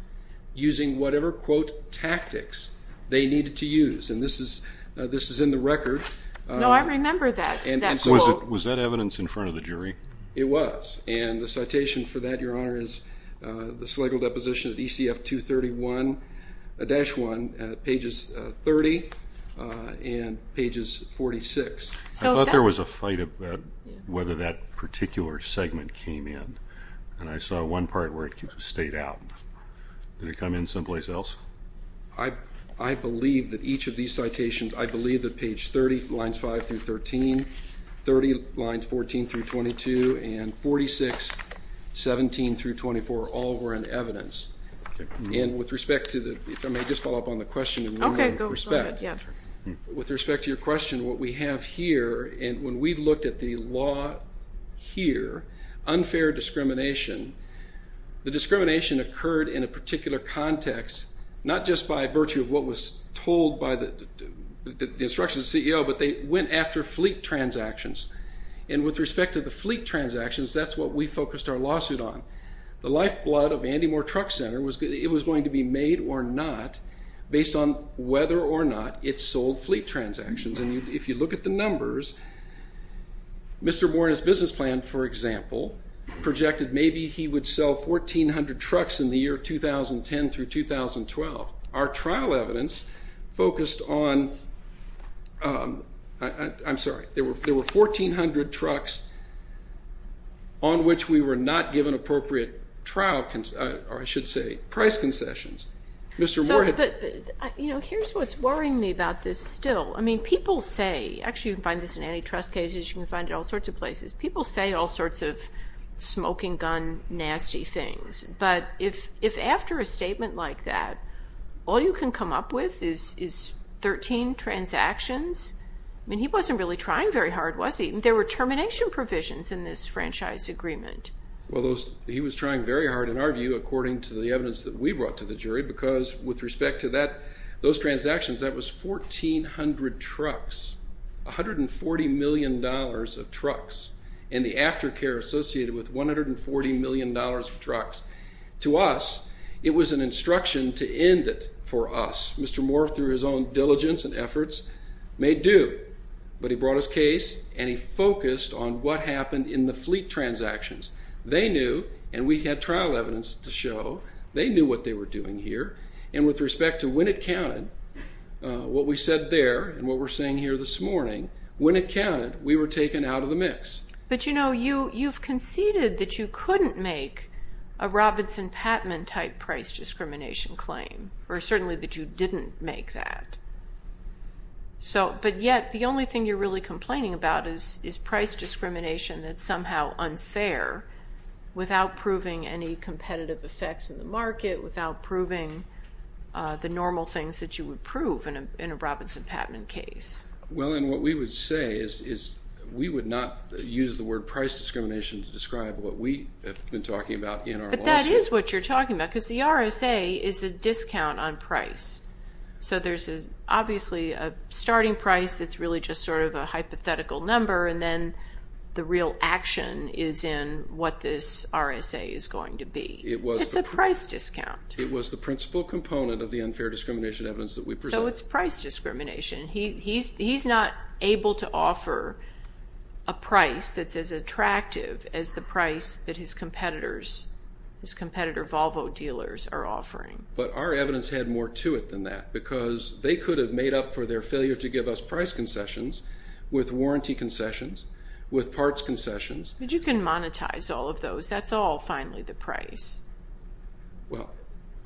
using whatever, quote, tactics they needed to use. And this is in the record. No, I remember that quote. Was that evidence in front of the jury? It was. And the citation for that, Your Honor, is the Slegel deposition at ECF 231-1, pages 30 and pages 46. I thought there was a fight about whether that particular segment came in, and I saw one part where it stayed out. Did it come in someplace else? I believe that each of these citations, I believe that page 30, lines 5 through 13, 30 lines 14 through 22, and 46, 17 through 24, all were in evidence. And with respect to the question, what we have here, and when we looked at the law here, unfair discrimination, the discrimination occurred in a particular context, not just by virtue of what was told by the instructions of the CEO, but they went after fleet transactions. And with respect to the fleet transactions, that's what we focused our lawsuit on. The lifeblood of Andy Moore Truck Center, it was going to be made or not based on whether or not it sold fleet transactions. And if you look at the numbers, Mr. Moore and his business plan, for example, projected maybe he would sell 1,400 trucks in the year 2010 through 2012. Our trial evidence focused on, I'm sorry, there were 1,400 trucks on which we were not given appropriate trial, or I should say, price concessions. But here's what's worrying me about this still. I mean, people say, actually you can find this in antitrust cases, you can find it all sorts of places, people say all sorts of smoking gun nasty things. But if after a statement like that, all you can come up with is 13 transactions? I mean, he wasn't really trying very hard, was he? There were termination provisions in this franchise agreement. Well, he was trying very hard, in our view, according to the evidence that we brought to the jury, because with respect to those transactions, that was 1,400 trucks, $140 million of trucks. And the aftercare associated with $140 million of trucks. To us, it was an instruction to end it for us. Mr. Moore, through his own diligence and efforts, may do. But he brought his case and he focused on what happened in the fleet transactions. They knew, and we had trial evidence to show, they knew what they were doing here. And with respect to when it counted, what we said there and what we're saying here this morning, when it counted, we were taken out of the mix. But, you know, you've conceded that you couldn't make a Robinson-Pattman-type price discrimination claim, or certainly that you didn't make that. But yet the only thing you're really complaining about is price discrimination that's somehow unfair without proving any competitive effects in the market, without proving the normal things that you would prove in a Robinson-Pattman case. Well, and what we would say is we would not use the word price discrimination to describe what we have been talking about in our lawsuit. But that is what you're talking about, because the RSA is a discount on price. So there's obviously a starting price that's really just sort of a hypothetical number, and then the real action is in what this RSA is going to be. It's a price discount. It was the principal component of the unfair discrimination evidence that we presented. So what's price discrimination? He's not able to offer a price that's as attractive as the price that his competitor Volvo dealers are offering. But our evidence had more to it than that, because they could have made up for their failure to give us price concessions with warranty concessions, with parts concessions. But you can monetize all of those. That's all, finally, the price. Well,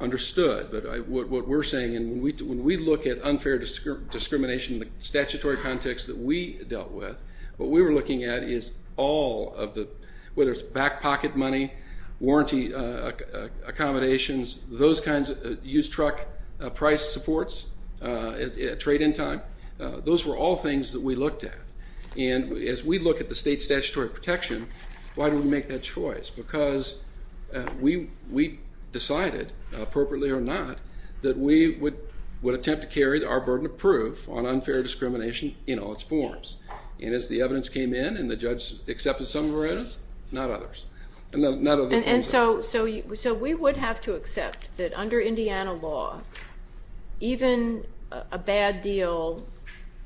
understood. But what we're saying, and when we look at unfair discrimination in the statutory context that we dealt with, what we were looking at is all of the, whether it's back pocket money, warranty accommodations, those kinds of used truck price supports at trade-in time, those were all things that we looked at. And as we look at the state statutory protection, why do we make that choice? Because we decided, appropriately or not, that we would attempt to carry our burden of proof on unfair discrimination in all its forms. And as the evidence came in and the judge accepted some of our evidence, not others. And so we would have to accept that under Indiana law, even a bad deal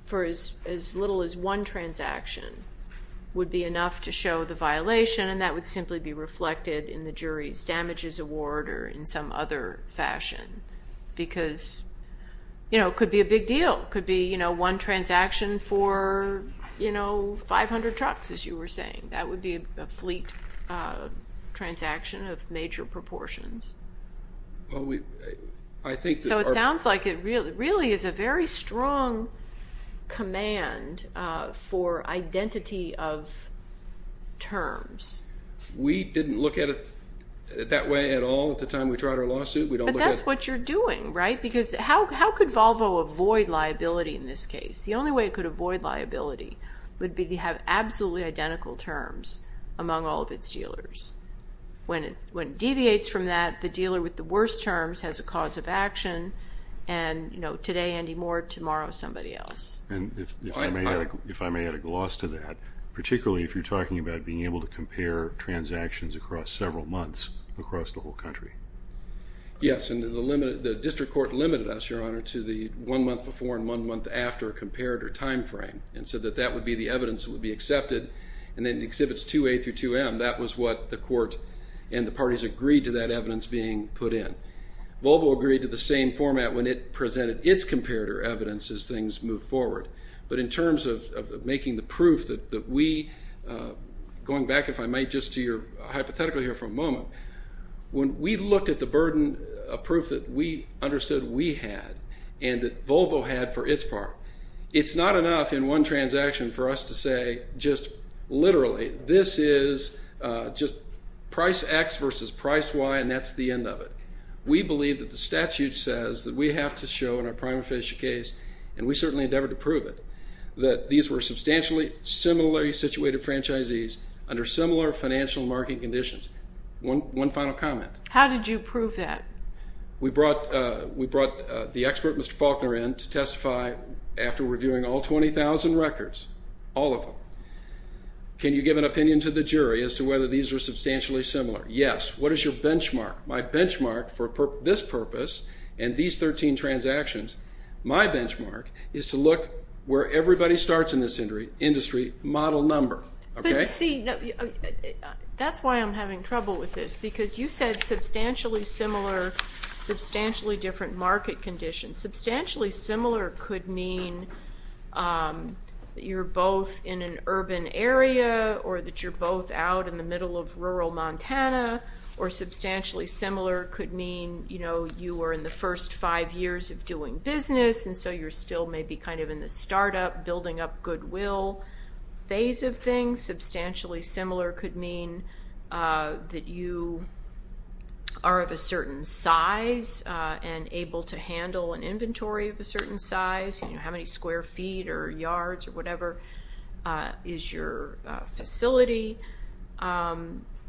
for as little as one transaction would be enough to show the violation, and that would simply be reflected in the jury's damages award or in some other fashion. Because it could be a big deal. It could be one transaction for 500 trucks, as you were saying. That would be a fleet transaction of major proportions. So it sounds like it really is a very strong command for identity of terms. We didn't look at it that way at all at the time we tried our lawsuit. But that's what you're doing, right? Because how could Volvo avoid liability in this case? The only way it could avoid liability would be to have absolutely identical terms among all of its dealers. When it deviates from that, the dealer with the worst terms has a cause of action, and, you know, today Andy Moore, tomorrow somebody else. And if I may add a gloss to that, particularly if you're talking about being able to compare transactions across several months across the whole country. Yes, and the district court limited us, Your Honor, to the one month before and one month after compared or time frame, and said that that would be the evidence that would be accepted. And then in Exhibits 2A through 2M, that was what the court and the parties agreed to that evidence being put in. Volvo agreed to the same format when it presented its comparator evidence as things moved forward. But in terms of making the proof that we, going back, if I might, just to your hypothetical here for a moment, when we looked at the burden of proof that we understood we had and that Volvo had for its part, it's not enough in one transaction for us to say just literally this is just price X versus price Y and that's the end of it. We believe that the statute says that we have to show in our prima facie case, and we certainly endeavored to prove it, that these were substantially similarly situated franchisees under similar financial market conditions. One final comment. How did you prove that? We brought the expert, Mr. Faulkner, in to testify after reviewing all 20,000 records, all of them. Can you give an opinion to the jury as to whether these are substantially similar? Yes. What is your benchmark? My benchmark for this purpose and these 13 transactions, my benchmark, is to look where everybody starts in this industry, model number. That's why I'm having trouble with this because you said substantially similar, substantially different market conditions. Substantially similar could mean that you're both in an urban area or that you're both out in the middle of rural Montana, or substantially similar could mean you were in the first five years of doing business and so you're still maybe kind of in the startup, building up goodwill phase of things. Substantially similar could mean that you are of a certain size and able to handle an inventory of a certain size, how many square feet or yards or whatever is your facility.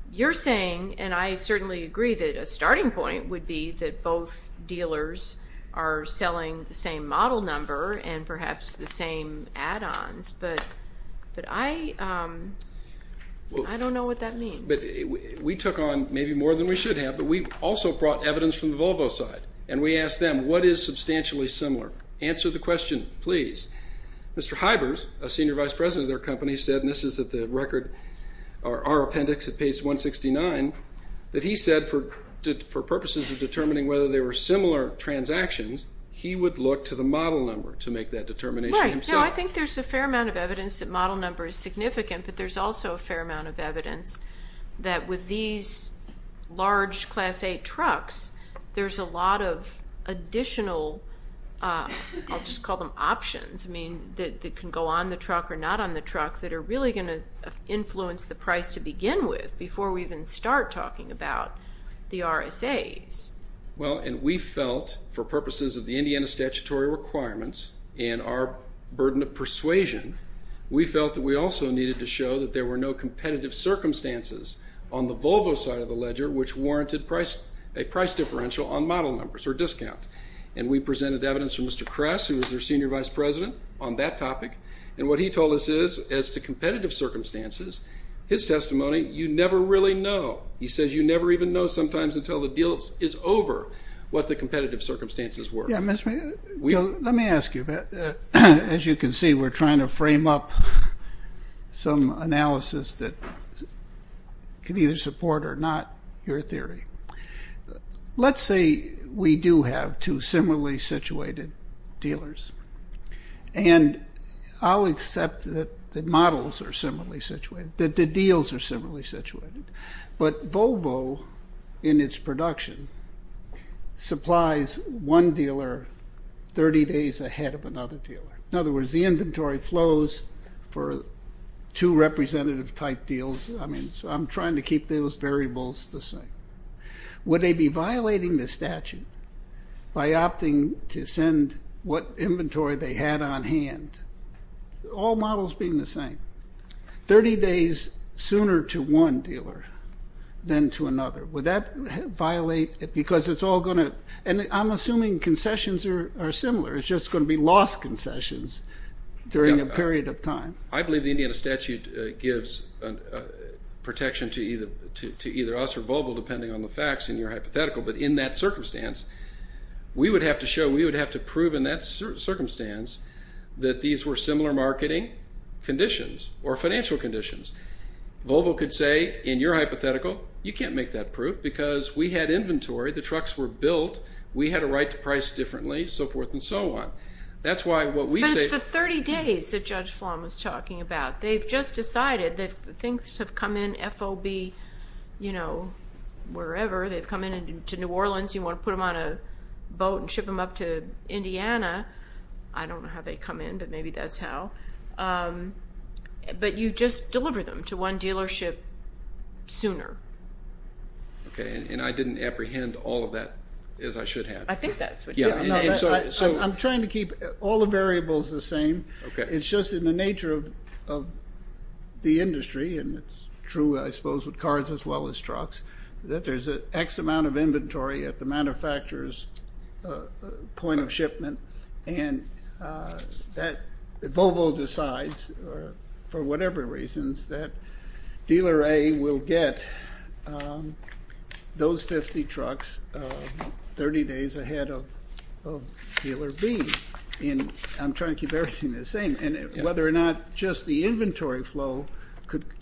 You're saying, and I certainly agree that a starting point would be that both dealers are selling the same model number and perhaps the same add-ons, but I don't know what that means. We took on maybe more than we should have, but we also brought evidence from the Volvo side, and we asked them, what is substantially similar? Answer the question, please. Mr. Hybers, a senior vice president of their company, said, and this is at the record, our appendix at page 169, that he said for purposes of determining whether they were similar transactions, he would look to the model number to make that determination himself. Right. No, I think there's a fair amount of evidence that model number is significant, but there's also a fair amount of evidence that with these large class A trucks, there's a lot of additional, I'll just call them options, that can go on the truck or not on the truck that are really going to influence the price to begin with before we even start talking about the RSAs. Well, and we felt for purposes of the Indiana statutory requirements and our burden of persuasion, we felt that we also needed to show that there were no competitive circumstances on the Volvo side of the ledger which warranted a price differential on model numbers or discount, and we presented evidence from Mr. Kress, who was their senior vice president, on that topic, and what he told us is as to competitive circumstances, his testimony, you never really know. He says you never even know sometimes until the deal is over what the competitive circumstances were. Yeah, Mr. Mayor, let me ask you. As you can see, we're trying to frame up some analysis that can either support or not your theory. Let's say we do have two similarly situated dealers, and I'll accept that the models are similarly situated, that the deals are similarly situated, but Volvo, in its production, supplies one dealer 30 days ahead of another dealer. In other words, the inventory flows for two representative-type deals, so I'm trying to keep those variables the same. Would they be violating the statute by opting to send what inventory they had on hand, all models being the same, 30 days sooner to one dealer than to another? Would that violate it because it's all going to, and I'm assuming concessions are similar, it's just going to be lost concessions during a period of time? I believe the Indiana statute gives protection to either us or Volvo depending on the facts in your hypothetical, but in that circumstance, we would have to show, we would have to prove in that circumstance that these were similar marketing conditions or financial conditions. Volvo could say, in your hypothetical, you can't make that proof because we had inventory, the trucks were built, we had a right to price differently, so forth and so on. But it's the 30 days that Judge Flan was talking about. They've just decided that things have come in FOB, you know, wherever. They've come in to New Orleans. You want to put them on a boat and ship them up to Indiana. I don't know how they come in, but maybe that's how. But you just deliver them to one dealership sooner. Okay, and I didn't apprehend all of that as I should have. I think that's what you said. I'm trying to keep all the variables the same. It's just in the nature of the industry, and it's true, I suppose, with cars as well as trucks, that there's an X amount of inventory at the manufacturer's point of shipment, and that Volvo decides, for whatever reasons, that dealer A will get those 50 trucks 30 days ahead of dealer B. I'm trying to keep everything the same. Whether or not just the inventory flow,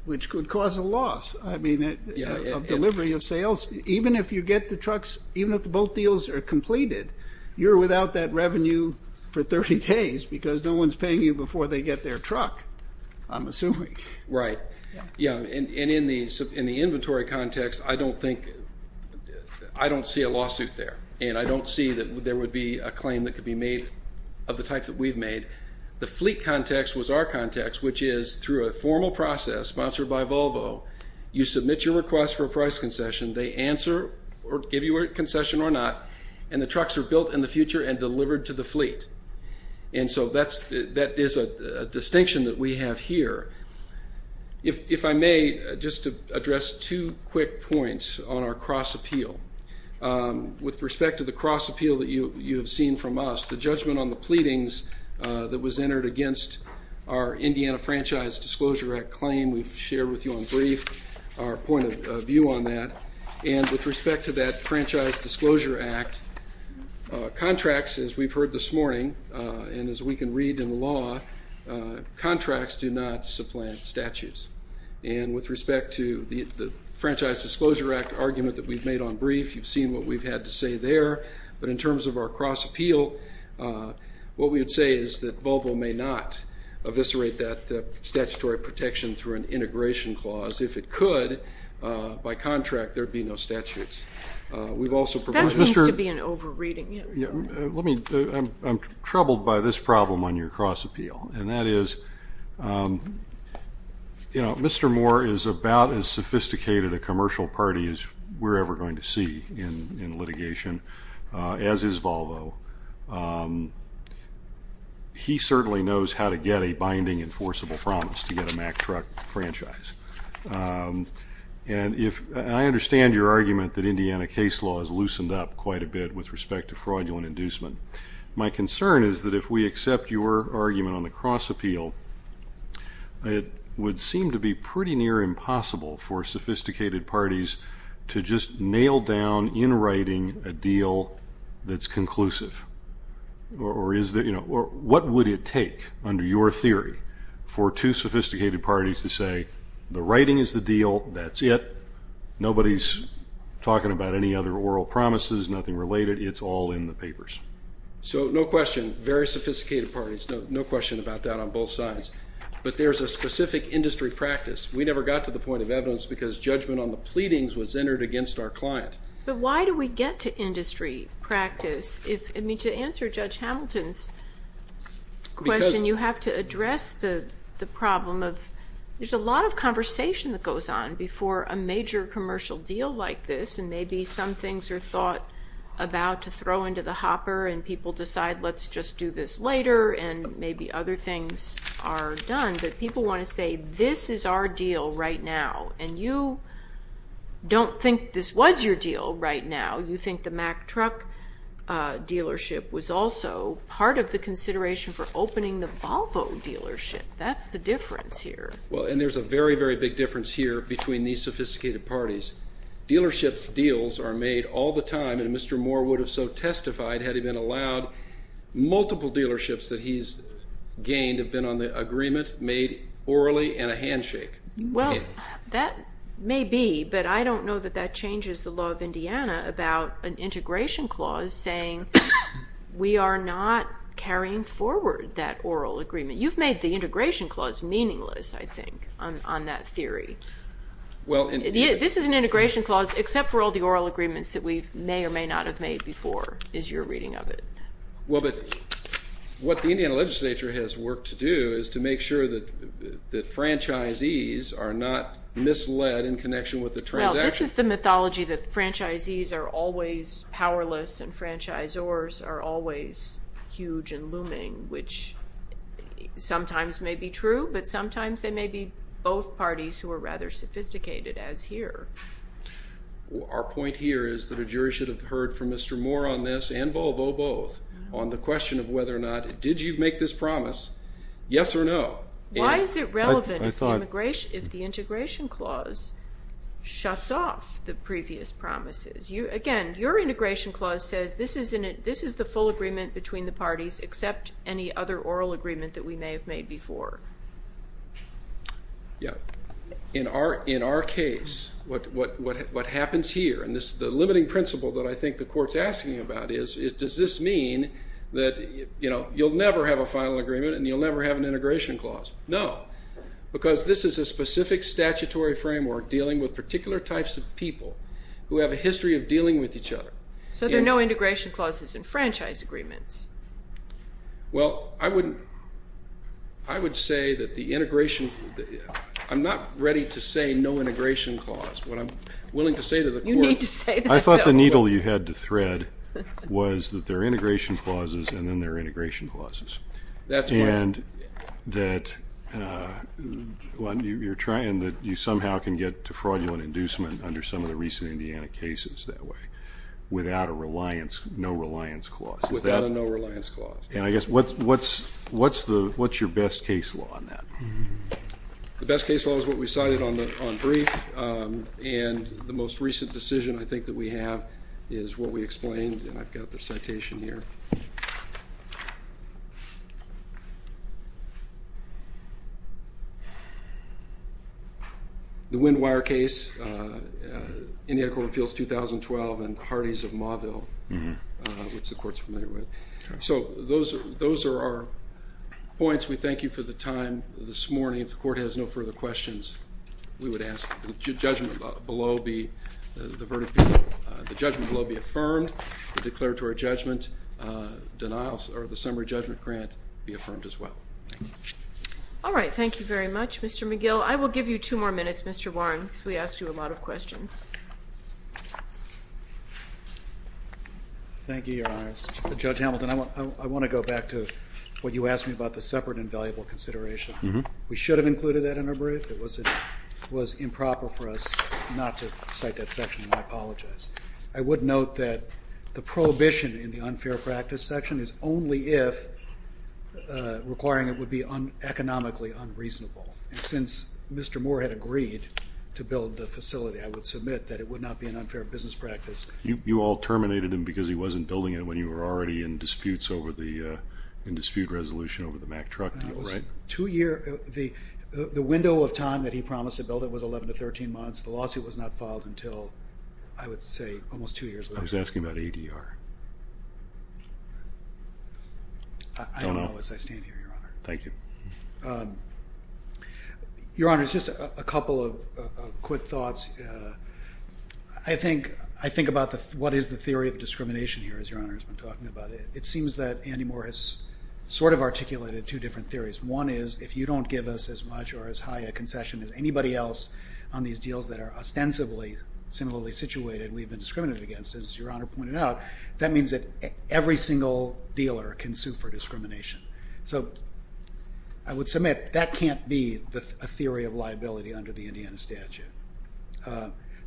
which could cause a loss of delivery of sales, even if you get the trucks, even if the boat deals are completed, you're without that revenue for 30 days because no one's paying you before they get their truck, I'm assuming. Right. Yeah, and in the inventory context, I don't think, I don't see a lawsuit there, and I don't see that there would be a claim that could be made of the type that we've made. The fleet context was our context, which is through a formal process sponsored by Volvo, you submit your request for a price concession, they answer or give you a concession or not, and the trucks are built in the future and delivered to the fleet. And so that is a distinction that we have here. If I may, just to address two quick points on our cross-appeal. With respect to the cross-appeal that you have seen from us, the judgment on the pleadings that was entered against our Indiana Franchise Disclosure Act claim we've shared with you on brief our point of view on that. And with respect to that Franchise Disclosure Act, contracts, as we've heard this morning, and as we can read in the law, contracts do not supplant statutes. And with respect to the Franchise Disclosure Act argument that we've made on brief, you've seen what we've had to say there, but in terms of our cross-appeal, what we would say is that Volvo may not eviscerate that statutory protection through an integration clause. If it could, by contract there would be no statutes. That seems to be an over-reading. I'm troubled by this problem on your cross-appeal, and that is Mr. Moore is about as sophisticated a commercial party as we're ever going to see in litigation, as is Volvo. He certainly knows how to get a binding enforceable promise to get a Mack truck franchise. And I understand your argument that Indiana case law has loosened up quite a bit with respect to fraudulent inducement. My concern is that if we accept your argument on the cross-appeal, it would seem to be pretty near impossible for sophisticated parties to just nail down in writing a deal that's conclusive. What would it take under your theory for two sophisticated parties to say the writing is the deal, that's it, nobody's talking about any other oral promises, nothing related, it's all in the papers? So no question, very sophisticated parties, no question about that on both sides. But there's a specific industry practice. We never got to the point of evidence because judgment on the pleadings was entered against our client. But why do we get to industry practice? I mean, to answer Judge Hamilton's question, you have to address the problem of there's a lot of conversation that goes on before a major commercial deal like this, and maybe some things are thought about to throw into the hopper and people decide let's just do this later and maybe other things are done. But people want to say this is our deal right now, and you don't think this was your deal right now. You think the Mack truck dealership was also part of the consideration for opening the Volvo dealership. That's the difference here. Well, and there's a very, very big difference here between these sophisticated parties. Dealership deals are made all the time, and Mr. Moore would have so testified had he been allowed. Multiple dealerships that he's gained have been on the agreement made orally and a handshake. Well, that may be, but I don't know that that changes the law of Indiana about an integration clause saying we are not carrying forward that oral agreement. You've made the integration clause meaningless, I think, on that theory. This is an integration clause except for all the oral agreements that we may or may not have made before, is your reading of it. Well, but what the Indiana legislature has worked to do is to make sure that franchisees are not misled in connection with the transaction. Well, this is the mythology that franchisees are always powerless and franchisors are always huge and looming, which sometimes may be true, but sometimes they may be both parties who are rather sophisticated, as here. Our point here is that a jury should have heard from Mr. Moore on this and Volvo both on the question of whether or not did you make this promise, yes or no? Why is it relevant if the integration clause shuts off the previous promises? Again, your integration clause says this is the full agreement between the parties except any other oral agreement that we may have made before. Yeah. In our case, what happens here, and this is the limiting principle that I think the court's asking about is, does this mean that you'll never have a final agreement and you'll never have an integration clause? No, because this is a specific statutory framework dealing with particular types of people who have a history of dealing with each other. So there are no integration clauses in franchise agreements? Well, I would say that the integration – I'm not ready to say no integration clause. What I'm willing to say to the court – You need to say that, though. I thought the needle you had to thread was that there are integration clauses and then there are integration clauses. That's right. And that you somehow can get to fraudulent inducement under some of the recent Indiana cases that way without a no-reliance clause. Without a no-reliance clause. And I guess what's your best case law on that? The best case law is what we cited on brief, and the most recent decision I think that we have is what we explained, and I've got the citation here. The Wind Wire case, Indiana Court of Appeals 2012 and Hardee's of Mauville, which the court's familiar with. So those are our points. We thank you for the time this morning. If the court has no further questions, we would ask that the judgment below be affirmed, the declaratory judgment, denials, or the summary judgment grant be affirmed as well. All right. Thank you very much, Mr. McGill. I will give you two more minutes, Mr. Warren, because we asked you a lot of questions. Thank you, Your Honors. Judge Hamilton, I want to go back to what you asked me about the separate and valuable consideration. We should have included that in our brief. It was improper for us not to cite that section, and I apologize. I would note that the prohibition in the unfair practice section is only if requiring it would be economically unreasonable. And since Mr. Moore had agreed to build the facility, I would submit that it would not be an unfair business practice. You all terminated him because he wasn't building it when you were already in disputes over the dispute resolution over the Mack truck deal, right? The window of time that he promised to build it was 11 to 13 months. The lawsuit was not filed until, I would say, almost two years ago. I was asking about ADR. I don't know as I stand here, Your Honor. Thank you. Your Honor, just a couple of quick thoughts. I think about what is the theory of discrimination here, as Your Honor has been talking about it. It seems that Andy Moore has sort of articulated two different theories. One is if you don't give us as much or as high a concession as anybody else on these deals that are ostensibly similarly situated, we've been discriminated against. As Your Honor pointed out, that means that every single dealer can sue for discrimination. So I would submit that can't be a theory of liability under the Indiana statute.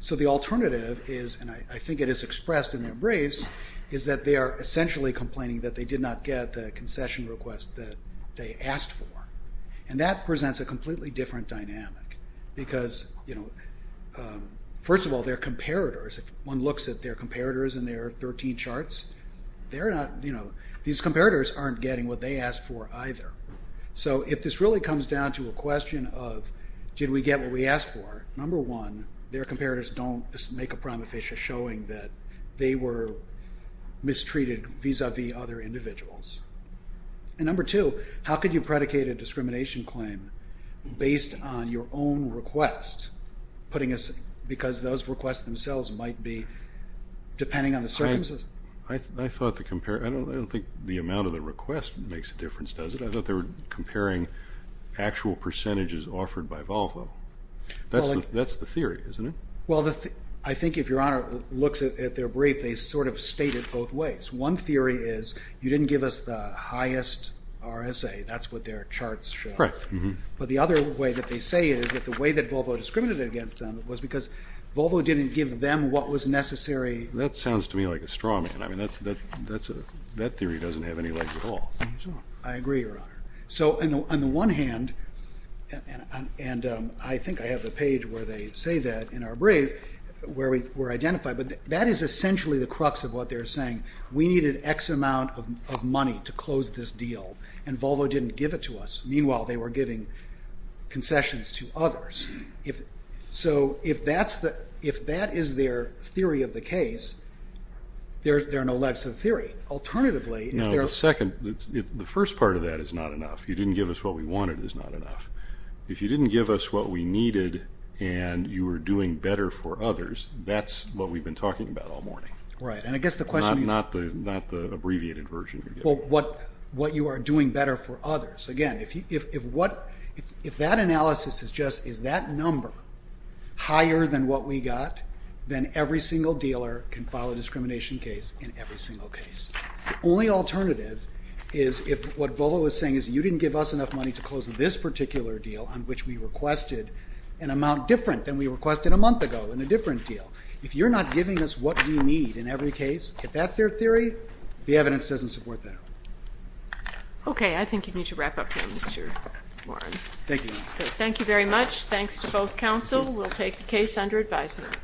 So the alternative is, and I think it is expressed in the briefs, is that they are essentially complaining that they did not get the concession request that they asked for. And that presents a completely different dynamic because, first of all, their comparators, if one looks at their comparators in their 13 charts, these comparators aren't getting what they asked for either. So if this really comes down to a question of did we get what we asked for, number one, their comparators don't make a prima facie showing that they were mistreated vis-à-vis other individuals. And number two, how could you predicate a discrimination claim based on your own request, because those requests themselves might be depending on the circumstances? I don't think the amount of the request makes a difference, does it? I thought they were comparing actual percentages offered by Volvo. That's the theory, isn't it? Well, I think if Your Honor looks at their brief, they sort of state it both ways. One theory is you didn't give us the highest RSA. That's what their charts show. But the other way that they say it is that the way that Volvo discriminated against them was because Volvo didn't give them what was necessary. That sounds to me like a straw man. I mean, that theory doesn't have any legs at all. I agree, Your Honor. So on the one hand, and I think I have the page where they say that in our brief where we're identified, but that is essentially the crux of what they're saying. We needed X amount of money to close this deal, and Volvo didn't give it to us. Meanwhile, they were giving concessions to others. So if that is their theory of the case, there are no legs to the theory. Now, the first part of that is not enough. You didn't give us what we wanted is not enough. If you didn't give us what we needed and you were doing better for others, that's what we've been talking about all morning, not the abbreviated version. Well, what you are doing better for others. Again, if that analysis is just is that number higher than what we got, then every single dealer can file a discrimination case in every single case. The only alternative is if what Volvo is saying is you didn't give us enough money to close this particular deal on which we requested an amount different than we requested a month ago in a different deal. If you're not giving us what we need in every case, if that's their theory, the evidence doesn't support that. Okay, I think you need to wrap up here, Mr. Warren. Thank you. Thank you very much. Thanks to both counsel. We'll take the case under advisement.